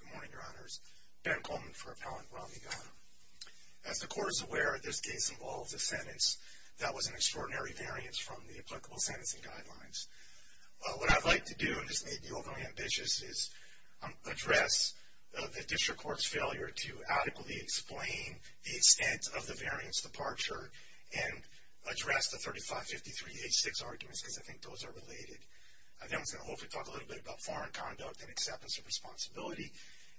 Good morning, your honors. Ben Coleman for Appellant Rami Ghanem. As the court is aware, this case involves a sentence that was an extraordinary variance from the applicable sentencing guidelines. What I'd like to do, and this may be overly ambitious, is address the district court's failure to adequately explain the extent of the variance departure and address the 35-53-86 arguments, because I think those are related. Then we're going to hopefully talk a little bit about foreign conduct and acceptance of responsibility,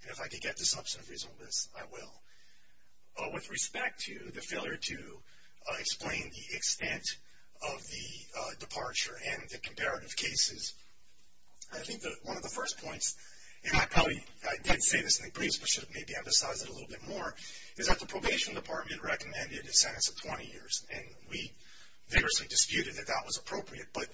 and if I can get to substantive reasonableness, I will. With respect to the failure to explain the extent of the departure and the comparative cases, I think that one of the first points, and I probably, I did say this in the briefs, but should have maybe emphasized it a little bit more, is that the probation department recommended a sentence of 20 years, and we vigorously disputed that that was appropriate, but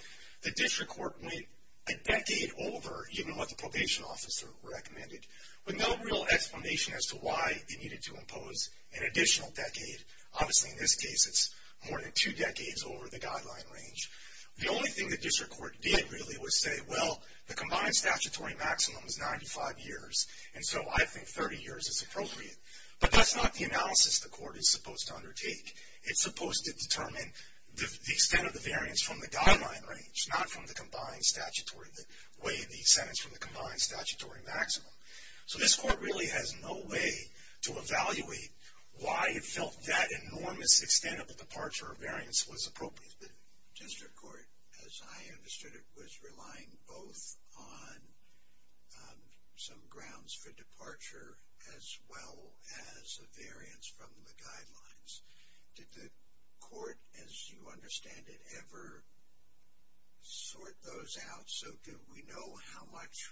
the district court went a decade over even what the probation officer recommended, with no real explanation as to why they needed to impose an additional decade. Obviously, in this case, it's more than two decades over the guideline range. The only thing the district court did, really, was say, well, the combined But that's not the analysis the court is supposed to undertake. It's supposed to determine the extent of the variance from the guideline range, not from the combined statutory, the way the sentence from the combined statutory maximum. So this court really has no way to evaluate why it felt that enormous extent of the departure of variance was appropriate. The district court, as I understood it, was relying both on some grounds for departure as well as a variance from the guidelines. Did the court, as you understand it, ever sort those out so that we know how much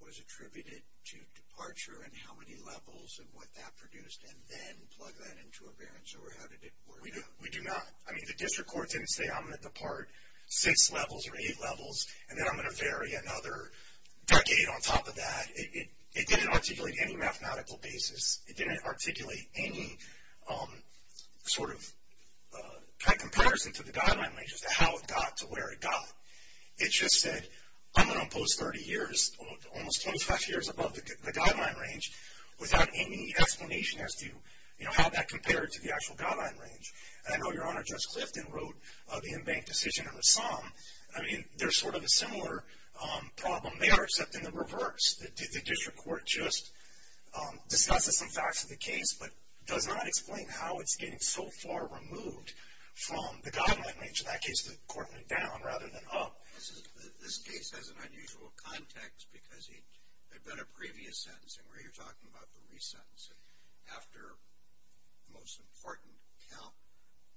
was attributed to departure and how many levels and what that produced, and then plug that into a variance, or how did it work out? We do not. I mean, the district court didn't say, I'm going to depart six levels or eight levels, and then I'm going to vary another decade on top of that. It didn't articulate any mathematical basis. It didn't articulate any sort of kind of comparison to the guideline range as to how it got to where it got. It just said, I'm going to impose 30 years, almost 25 years above the guideline range without any explanation as to how that compared to the actual guideline range. And I know Your Honor, Judge Clifton wrote the in-bank decision in the sum. I mean, there's sort of a similar problem there, except in the reverse. The district court just discusses some facts of the case, but does not explain how it's getting so far removed from the guideline range. In that case, the court went down rather than up. This case has an unusual context because it had been a previous sentencing where you're talking about the re-sentencing, after the most important count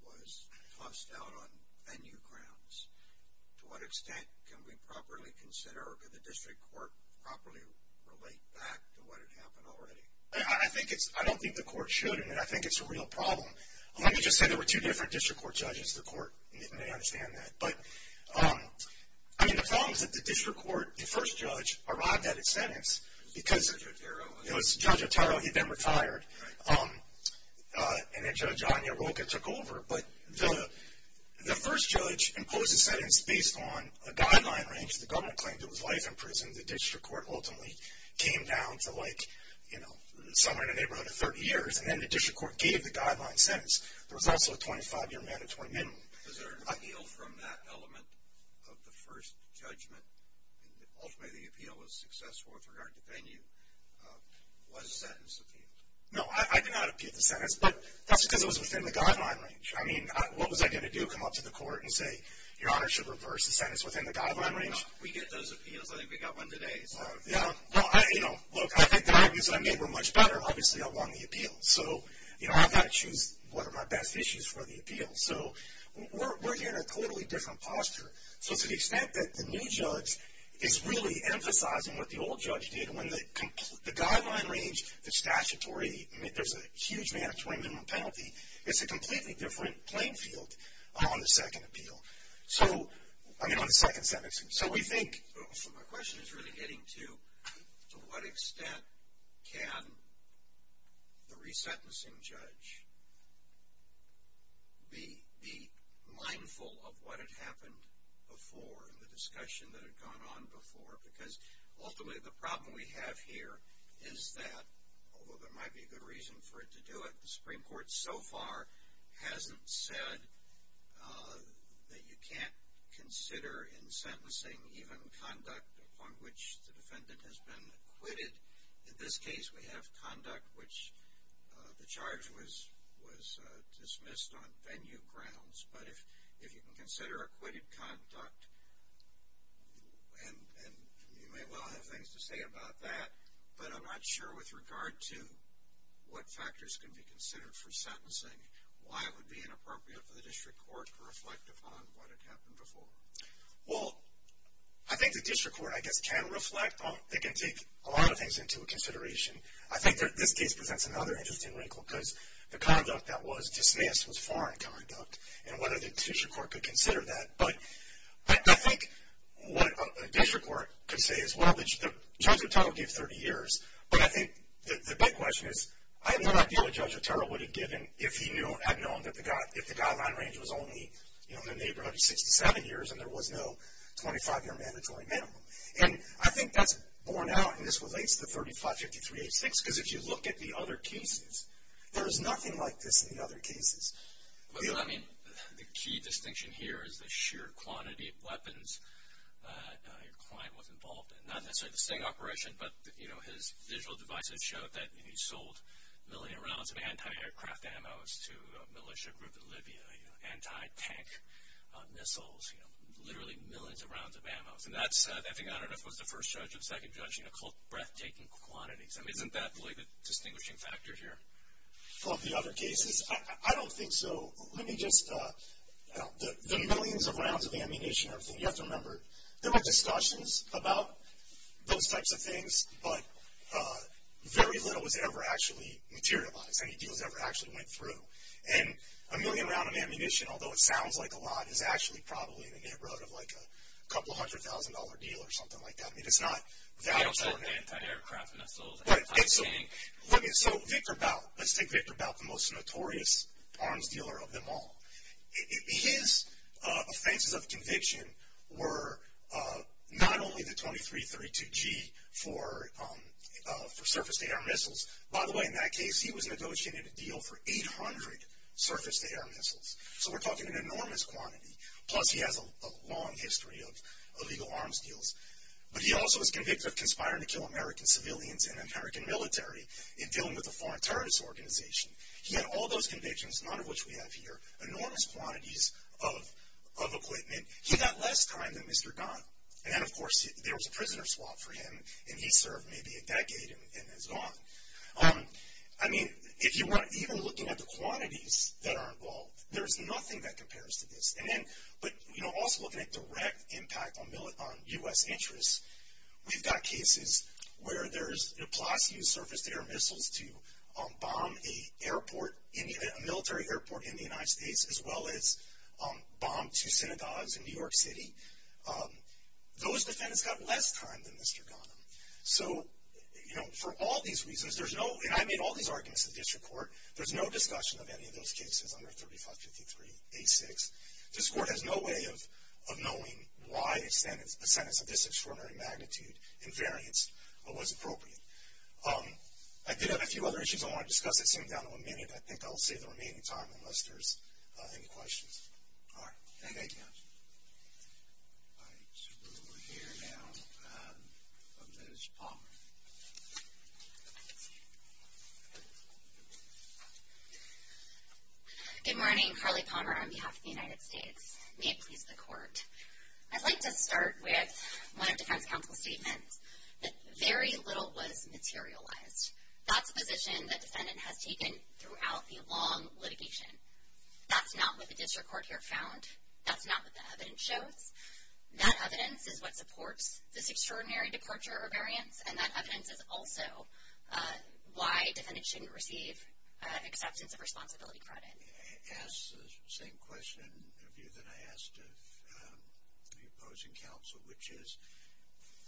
was tossed out on venue grounds. To what extent can we properly consider, or can the district court properly relate back to what had happened already? I don't think the court should, and I think it's a real problem. Let me just say there were two different district court judges. The court may understand that. But, I mean, the problem is that the district court, the first judge arrived at his sentence because it was Judge Otero. He'd been retired. And then Judge Anya Roca took over. But the first judge imposed his sentence based on a guideline range. The government claimed it was life in prison. The district court ultimately came down to like, you know, somewhere in the neighborhood of 30 years. And then the district court gave the guideline sentence. There was also a 25-year mandatory minimum. Is there an appeal from that element of the first judgment? Ultimately, the appeal was successful with regard to venue. Was the sentence appealed? No, I did not appeal the sentence. But that's because it was within the guideline range. I mean, what was I going to do? Come up to the court and say, Your Honor, should reverse the sentence within the guideline range? We get those appeals. I think we got one today. Yeah. Well, you know, look, I think the arguments I made were much better, obviously, along the appeal. So, you know, I've got to choose what are my best issues for the appeal. So we're in a totally different posture. So to the extent that the new judge is really emphasizing what the old judge did when the guideline range, the statutory, I mean, there's a huge mandatory minimum penalty. It's a completely different playing field on the second appeal. So, I mean, on the second sentence. So we think... Can the resentencing judge be mindful of what had happened before and the discussion that had gone on before? Because ultimately, the problem we have here is that, although there might be a good reason for it to do it, the Supreme Court so far hasn't said that you In this case, we have conduct, which the charge was dismissed on venue grounds. But if you can consider acquitted conduct, and you may well have things to say about that, but I'm not sure with regard to what factors can be considered for sentencing, why it would be inappropriate for the district court to reflect upon what had happened before. Well, I think the district court, I guess, can reflect. They can take a lot of things into consideration. I think this case presents another interesting wrinkle, because the conduct that was dismissed was foreign conduct, and whether the district court could consider that. But I think what a district court could say is, well, Judge Otero gave 30 years, but I think the big question is, I have no idea what Judge Otero would have given if he had known that the guideline range was only in the neighborhood of 67 years, and there was no 25-year mandatory minimum. And I think that's borne out, and this relates to 3553-86, because if you look at the other cases, there is nothing like this in the other cases. Well, I mean, the key distinction here is the sheer quantity of weapons your client was involved in. Not necessarily the same operation, but his visual devices showed that he sold a million rounds of anti-aircraft ammos to a militia group in Libya, anti-tank missiles, you know, literally millions of rounds of ammos. And that's, I think, I don't know if it was the first judge or the second judge, you know, called breathtaking quantities. I mean, isn't that really the distinguishing factor here? Of the other cases? I don't think so. Let me just, the millions of rounds of ammunition and everything, you have to remember, there were discussions about those types of things, but very little was ever actually materialized, any deals ever actually went through. And a million rounds of ammunition, although it sounds like a lot, is actually probably in the neighborhood of, like, a couple hundred thousand dollar deal or something like that. I mean, it's not valuable. You don't say anti-aircraft missiles, anti-tank. Look, so Victor Bout, let's take Victor Bout, the most notorious arms dealer of them all. His offenses of conviction were not only the 2332-G for surface-to-air missiles. By the way, in that case, he was negotiating a deal for 800 surface-to-air missiles. So we're talking an enormous quantity, plus he has a long history of illegal arms deals. But he also was convicted of conspiring to kill American civilians and American military in dealing with a foreign terrorist organization. He had all those convictions, none of which we have here, enormous quantities of equipment. He got less time than Mr. Donnell. And then, of course, there was a prisoner swap for him, and he served maybe a decade and is gone. I mean, even looking at the quantities that are involved, there's nothing that compares to this. But, you know, also looking at direct impact on U.S. interests, we've got cases where there's, plus you use surface-to-air missiles to bomb a military airport in the United States, as well as bomb two synagogues in New York City. Those defendants got less time than Mr. Donnell. So, you know, for all these reasons, there's no, and I made all these arguments in the district court, there's no discussion of any of those cases under 3553-A6. This court has no way of knowing why a sentence of this extraordinary magnitude and variance was appropriate. I did have a few other issues I want to discuss that seem down to a minute. I think I'll save the remaining time unless there's any questions. All right. Thank you. All right. So we'll hear now from Ms. Palmer. Good morning. Carly Palmer on behalf of the United States. May it please the Court. I'd like to start with one of defense counsel's statements, that very little was materialized. That's a position the defendant has taken throughout the long litigation. That's not what the district court here found. That's not what the evidence shows. That evidence is what supports this extraordinary departure or variance, and that evidence is also why defendants shouldn't receive acceptance of responsibility credit. I ask the same question of you that I asked of the opposing counsel, which is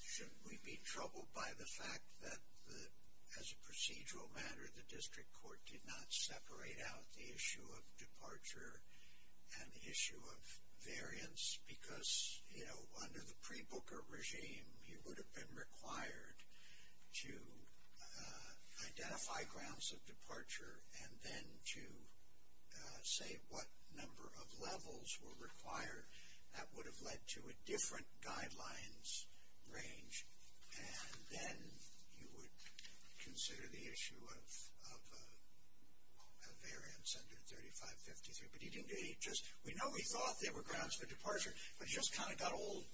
should we be troubled by the fact that, as a procedural matter, the district court did not separate out the issue of departure and the issue of variance, because, you know, under the pre-Booker regime, he would have been required to identify grounds of departure and then to say what number of levels were required. That would have led to a different guidelines range, and then you would consider the issue of a variance under 3553. But he didn't do any of that. We know he thought there were grounds for departure, but it just kind of got all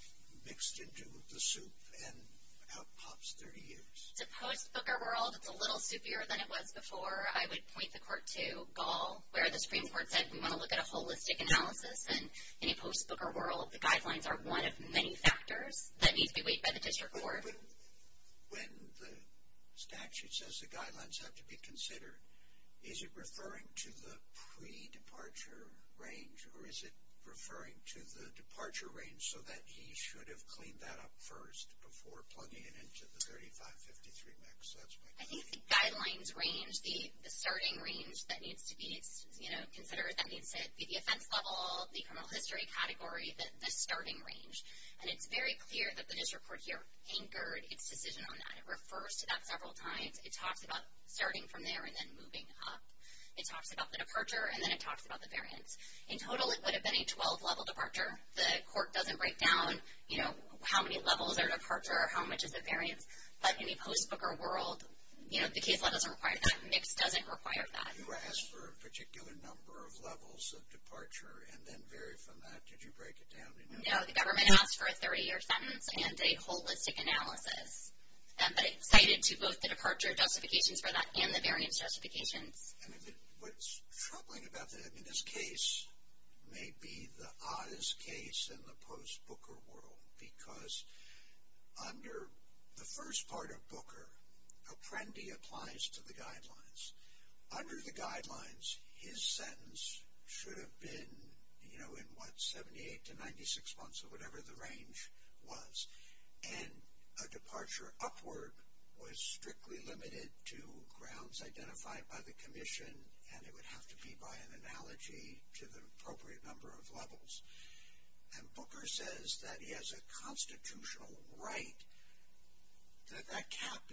mixed into the soup and out pops 30 years. It's a post-Booker world. It's a little soupier than it was before. I would point the court to Gaul, where the Supreme Court said, we want to look at a holistic analysis, and in a post-Booker world, the guidelines are one of many factors that need to be weighed by the district court. But when the statute says the guidelines have to be considered, is it referring to the pre-departure range, or is it referring to the departure range so that he should have cleaned that up first before plugging it into the 3553 mix? That's my question. I think the guidelines range, the starting range that needs to be considered, that needs to be the offense level, the criminal history category, the starting range. And it's very clear that the district court here anchored its decision on that. It refers to that several times. It talks about starting from there and then moving up. It talks about the departure, and then it talks about the variance. In total, it would have been a 12-level departure. The court doesn't break down, you know, how many levels are departure or how much is the variance. But in a post-Booker world, you know, the case law doesn't require that. Mix doesn't require that. You asked for a particular number of levels of departure and then vary from that. Did you break it down? No, the government asked for a 30-year sentence and a holistic analysis, but it cited to both the departure justifications for that and the variance justifications. What's troubling about that in this case may be the oddest case in the post-Booker world because under the first part of Booker, Apprendi applies to the guidelines. Under the guidelines, his sentence should have been, you know, in what, 78 to 96 months or whatever the range was. And a departure upward was strictly limited to grounds identified by the commission, and it would have to be by an analogy to the appropriate number of levels. And Booker says that he has a constitutional right, that that cap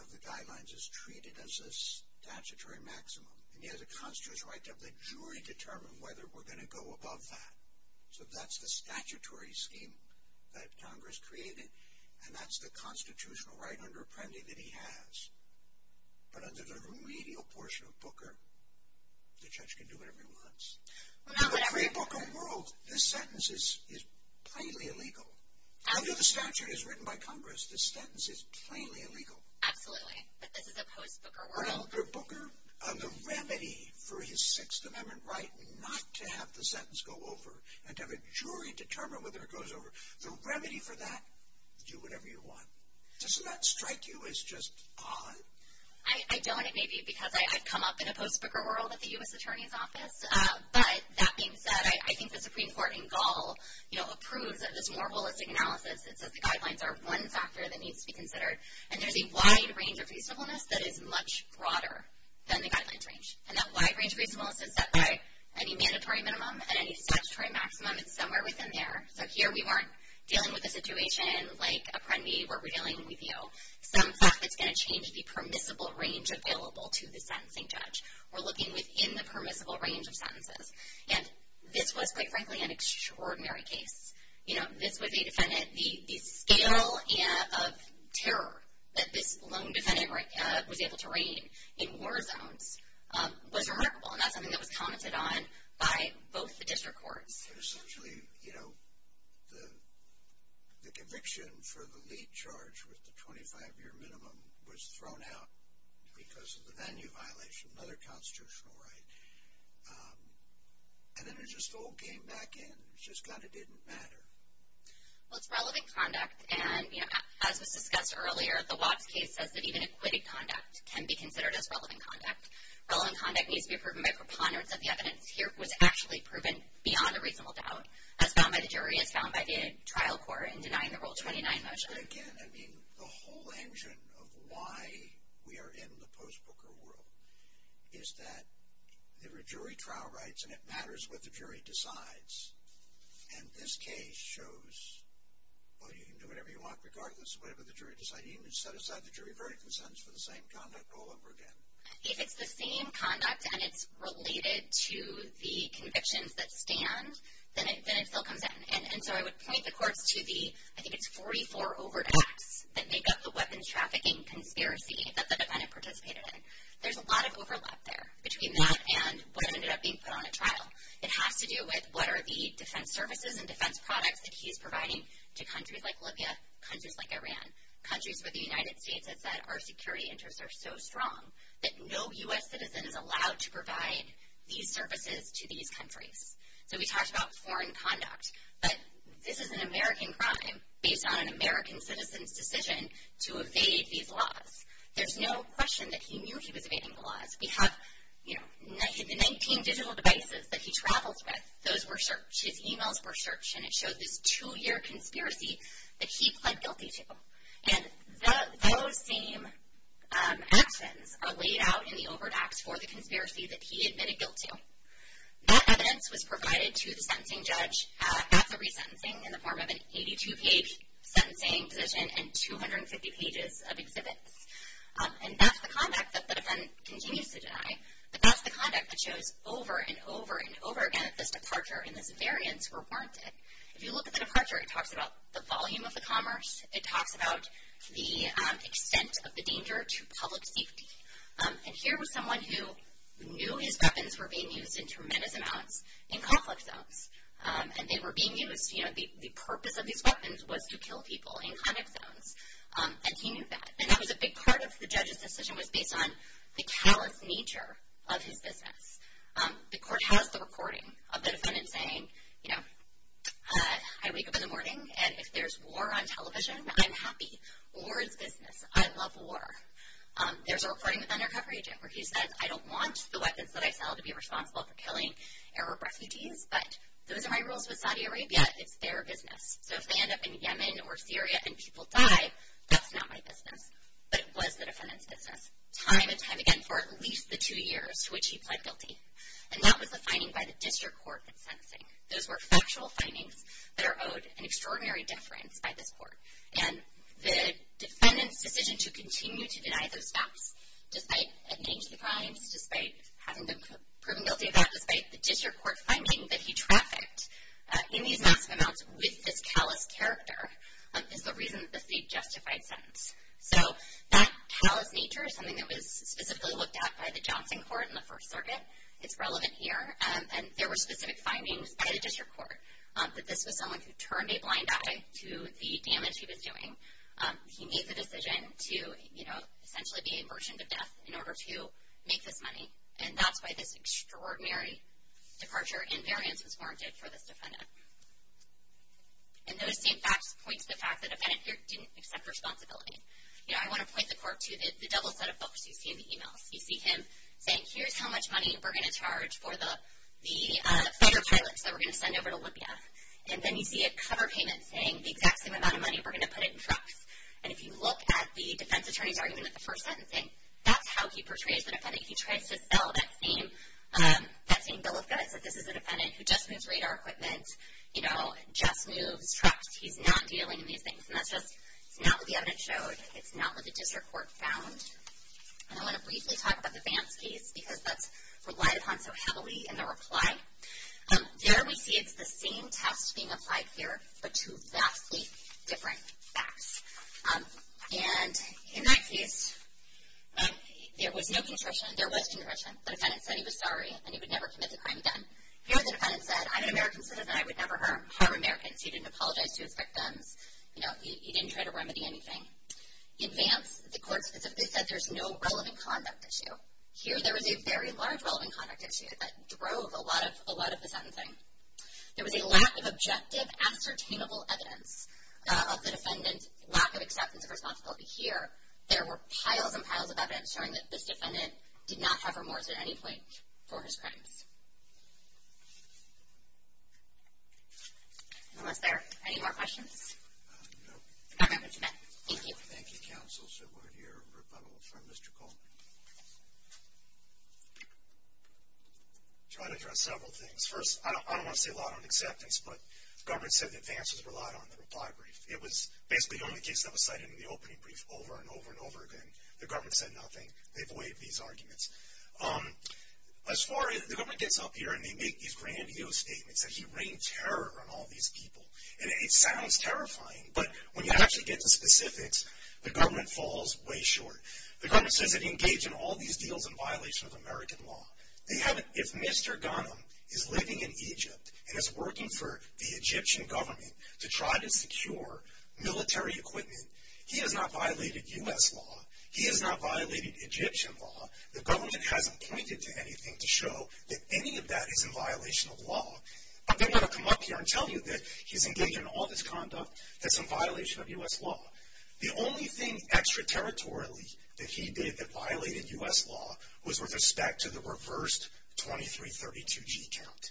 of the guidelines is treated as a statutory maximum. And he has a constitutional right to have the jury determine whether we're going to go above that. So that's the statutory scheme that Congress created, and that's the constitutional right under Apprendi that he has. But under the remedial portion of Booker, the judge can do whatever he wants. In the pre-Booker world, this sentence is plainly illegal. Under the statute as written by Congress, this sentence is plainly illegal. Absolutely, but this is a post-Booker world. Under Booker, the remedy for his Sixth Amendment right not to have the sentence go over and to have a jury determine whether it goes over, the remedy for that, do whatever you want. Doesn't that strike you as just odd? I don't. Maybe because I've come up in a post-Booker world at the U.S. Attorney's Office. But that being said, I think the Supreme Court in Gall approves of this more holistic analysis. It says the guidelines are one factor that needs to be considered. And there's a wide range of reasonableness that is much broader than the guidelines range. And that wide range of reasonableness is set by any mandatory minimum and any statutory maximum. It's somewhere within there. So here we weren't dealing with a situation like Apprendi where we're dealing with you. Some fact that's going to change the permissible range available to the sentencing judge. We're looking within the permissible range of sentences. And this was, quite frankly, an extraordinary case. You know, this was a defendant. The scale of terror that this lone defendant was able to reign in war zones was remarkable. And that's something that was commented on by both the district courts. Essentially, you know, the conviction for the lead charge with the 25-year minimum was thrown out because of the venue violation, another constitutional right. And then it just all came back in. It just kind of didn't matter. Well, it's relevant conduct. And, you know, as was discussed earlier, the Watts case says that even acquitted conduct can be considered as relevant conduct. Relevant conduct needs to be proven by preponderance. And the evidence here was actually proven beyond a reasonable doubt as found by the jury, as found by the trial court in denying the Rule 29 motion. But, again, I mean, the whole engine of why we are in the post-Booker world is that there are jury trial rights, and it matters what the jury decides. And this case shows, well, you can do whatever you want regardless of whatever the jury decides. You can set aside the jury verdict and sentence for the same conduct all over again. If it's the same conduct and it's related to the convictions that stand, then it still comes in. And so I would point the courts to the, I think it's 44 overt acts that make up the weapons trafficking conspiracy that the defendant participated in. There's a lot of overlap there between that and what ended up being put on a trial. It has to do with what are the defense services and defense products that he's providing to countries like Libya, countries like Iran, countries where the United States has said our security interests are so strong that no U.S. citizen is allowed to provide these services to these countries. So we talked about foreign conduct. But this is an American crime based on an American citizen's decision to evade these laws. There's no question that he knew he was evading the laws. We have, you know, the 19 digital devices that he travels with, those were searched. His emails were searched, and it showed this two-year conspiracy that he pled guilty to. And those same actions are laid out in the overt acts for the conspiracy that he admitted guilt to. That evidence was provided to the sentencing judge at the resentencing in the form of an 82-page sentencing position and 250 pages of exhibits. And that's the conduct that the defendant continues to deny. But that's the conduct that shows over and over and over again that this departure and this variance were warranted. If you look at the departure, it talks about the volume of the commerce. It talks about the extent of the danger to public safety. And here was someone who knew his weapons were being used in tremendous amounts in conflict zones. And they were being used, you know, the purpose of these weapons was to kill people in conflict zones. And he knew that. And that was a big part of the judge's decision was based on the callous nature of his business. The court has the recording of the defendant saying, you know, I wake up in the morning, and if there's war on television, I'm happy. War is business. I love war. There's a recording with an undercover agent where he says, I don't want the weapons that I sell to be responsible for killing Arab refugees, but those are my rules with Saudi Arabia. It's their business. So if they end up in Yemen or Syria and people die, that's not my business. But it was the defendant's business time and time again for at least the two years to which he pled guilty. And that was the finding by the district court in sentencing. Those were factual findings that are owed an extraordinary deference by this court. And the defendant's decision to continue to deny those facts despite admitting to the crimes, despite having them proven guilty of that, despite the district court finding that he trafficked in these massive amounts with this callous character, is the reason that this is a justified sentence. So that callous nature is something that was specifically looked at by the Johnson court in the First Circuit. It's relevant here. And there were specific findings by the district court that this was someone who turned a blind eye to the damage he was doing. He made the decision to, you know, essentially be a virgin to death in order to make this money. And that's why this extraordinary departure in variance was warranted for this defendant. And those same facts point to the fact the defendant here didn't accept responsibility. You know, I want to point the court to the double set of books you see in the e-mails. You see him saying, here's how much money we're going to charge for the fighter pilots that we're going to send over to Libya. And then you see a cover payment saying the exact same amount of money, we're going to put it in trucks. And if you look at the defense attorney's argument at the first sentencing, that's how he portrays the defendant. He tries to sell that same bill of goods that this is a defendant who just moves radar equipment, you know, just moves trucks. He's not dealing in these things. And that's just not what the evidence showed. It's not what the district court found. And I want to briefly talk about the Vance case because that's relied upon so heavily in the reply. There we see it's the same test being applied here but to vastly different facts. And in that case, there was no conscription. There was conscription. The defendant said he was sorry and he would never commit the crime again. Here the defendant said, I'm an American citizen, I would never harm Americans. He didn't apologize to his victims. You know, he didn't try to remedy anything. In Vance, the court specifically said there's no relevant conduct issue. Here there was a very large relevant conduct issue that drove a lot of the sentencing. There was a lack of objective, ascertainable evidence of the defendant, lack of acceptance of responsibility. Here there were piles and piles of evidence showing that this defendant did not have remorse at any point for his crimes. Anyone else there? Any more questions? No. All right. Thank you. Thank you, counsel. Should we hear a rebuttal from Mr. Coleman? I'll try to address several things. First, I don't want to say a lot on acceptance, but the government said that Vance was relied on in the reply brief. It was basically the only case that was cited in the opening brief over and over and over again. The government said nothing. They've waived these arguments. As far as, the government gets up here and they make these grandiose statements that he rained terror on all these people. And it sounds terrifying, but when you actually get to specifics, the government falls way short. The government says that he engaged in all these deals in violation of American law. If Mr. Ghanem is living in Egypt and is working for the Egyptian government to try to secure military equipment, he has not violated U.S. law. He has not violated Egyptian law. The government hasn't pointed to anything to show that any of that is in violation of law. But they want to come up here and tell you that he's engaged in all this conduct that's in violation of U.S. law. The only thing extraterritorially that he did that violated U.S. law was with respect to the reversed 2332G count.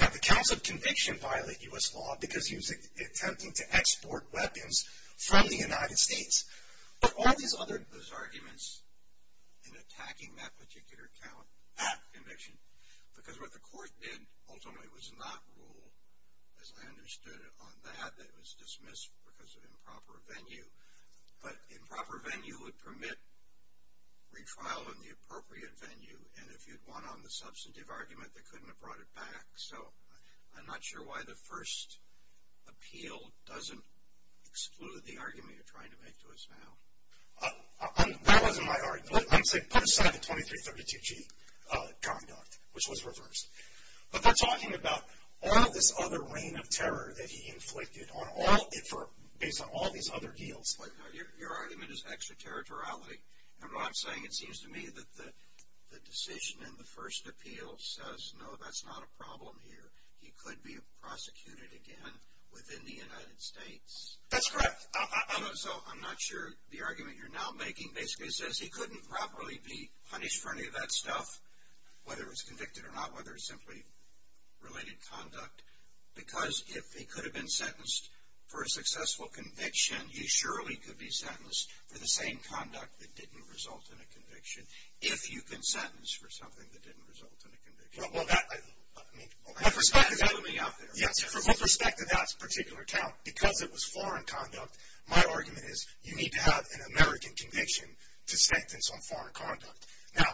Now, the counts of conviction violate U.S. law because he was attempting to export weapons from the United States. But all these other, those arguments in attacking that particular count, that conviction, because what the court did ultimately was not rule, as I understood it, on that. It was dismissed because of improper venue. But improper venue would permit retrial in the appropriate venue. And if you'd won on the substantive argument, they couldn't have brought it back. So I'm not sure why the first appeal doesn't exclude the argument you're trying to make to us now. That wasn't my argument. I'm saying put aside the 2332G conduct, which was reversed. But they're talking about all of this other reign of terror that he inflicted on all, based on all these other deals. Your argument is extraterritoriality. And what I'm saying, it seems to me that the decision in the first appeal says, no, that's not a problem here. He could be prosecuted again within the United States. That's correct. So I'm not sure the argument you're now making basically says he couldn't properly be punished for any of that stuff, whether it's convicted or not, whether it's simply related conduct. Because if he could have been sentenced for a successful conviction, he surely could be sentenced for the same conduct that didn't result in a conviction, if you can sentence for something that didn't result in a conviction. Well, that, I mean, with respect to that particular count, because it was foreign conduct, my argument is you need to have an American conviction to sentence on foreign conduct. Now,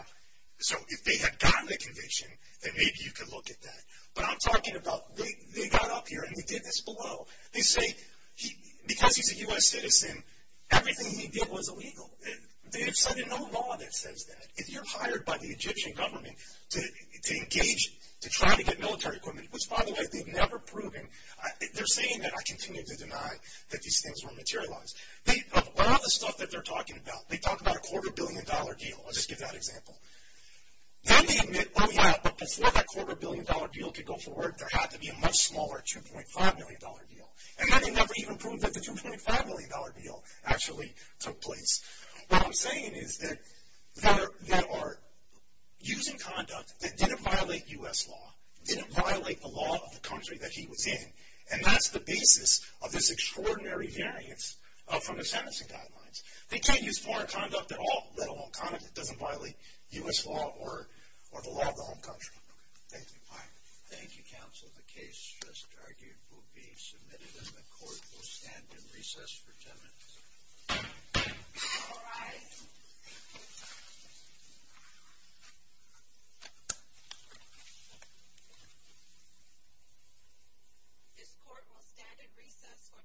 so if they had gotten a conviction, then maybe you could look at that. But I'm talking about they got up here and they did this below. They say because he's a U.S. citizen, everything he did was illegal. They have said there's no law that says that. If you're hired by the Egyptian government to engage, to try to get military equipment, which, by the way, they've never proven. They're saying that. I continue to deny that these things were materialized. A lot of the stuff that they're talking about, they talk about a quarter-billion-dollar deal. I'll just give that example. Then they admit, oh, yeah, but before that quarter-billion-dollar deal could go forward, there had to be a much smaller 2.5-million-dollar deal. And then they never even proved that the 2.5-million-dollar deal actually took place. What I'm saying is that they are using conduct that didn't violate U.S. law, didn't violate the law of the country that he was in, and that's the basis of this extraordinary variance from the sentencing guidelines. They can't use foreign conduct at all, let alone conduct that doesn't violate U.S. law or the law of the home country. Thank you. Thank you, counsel. The case just argued will be submitted, and the court will stand in recess for 10 minutes. All rise. This court will stand in recess for 10 minutes.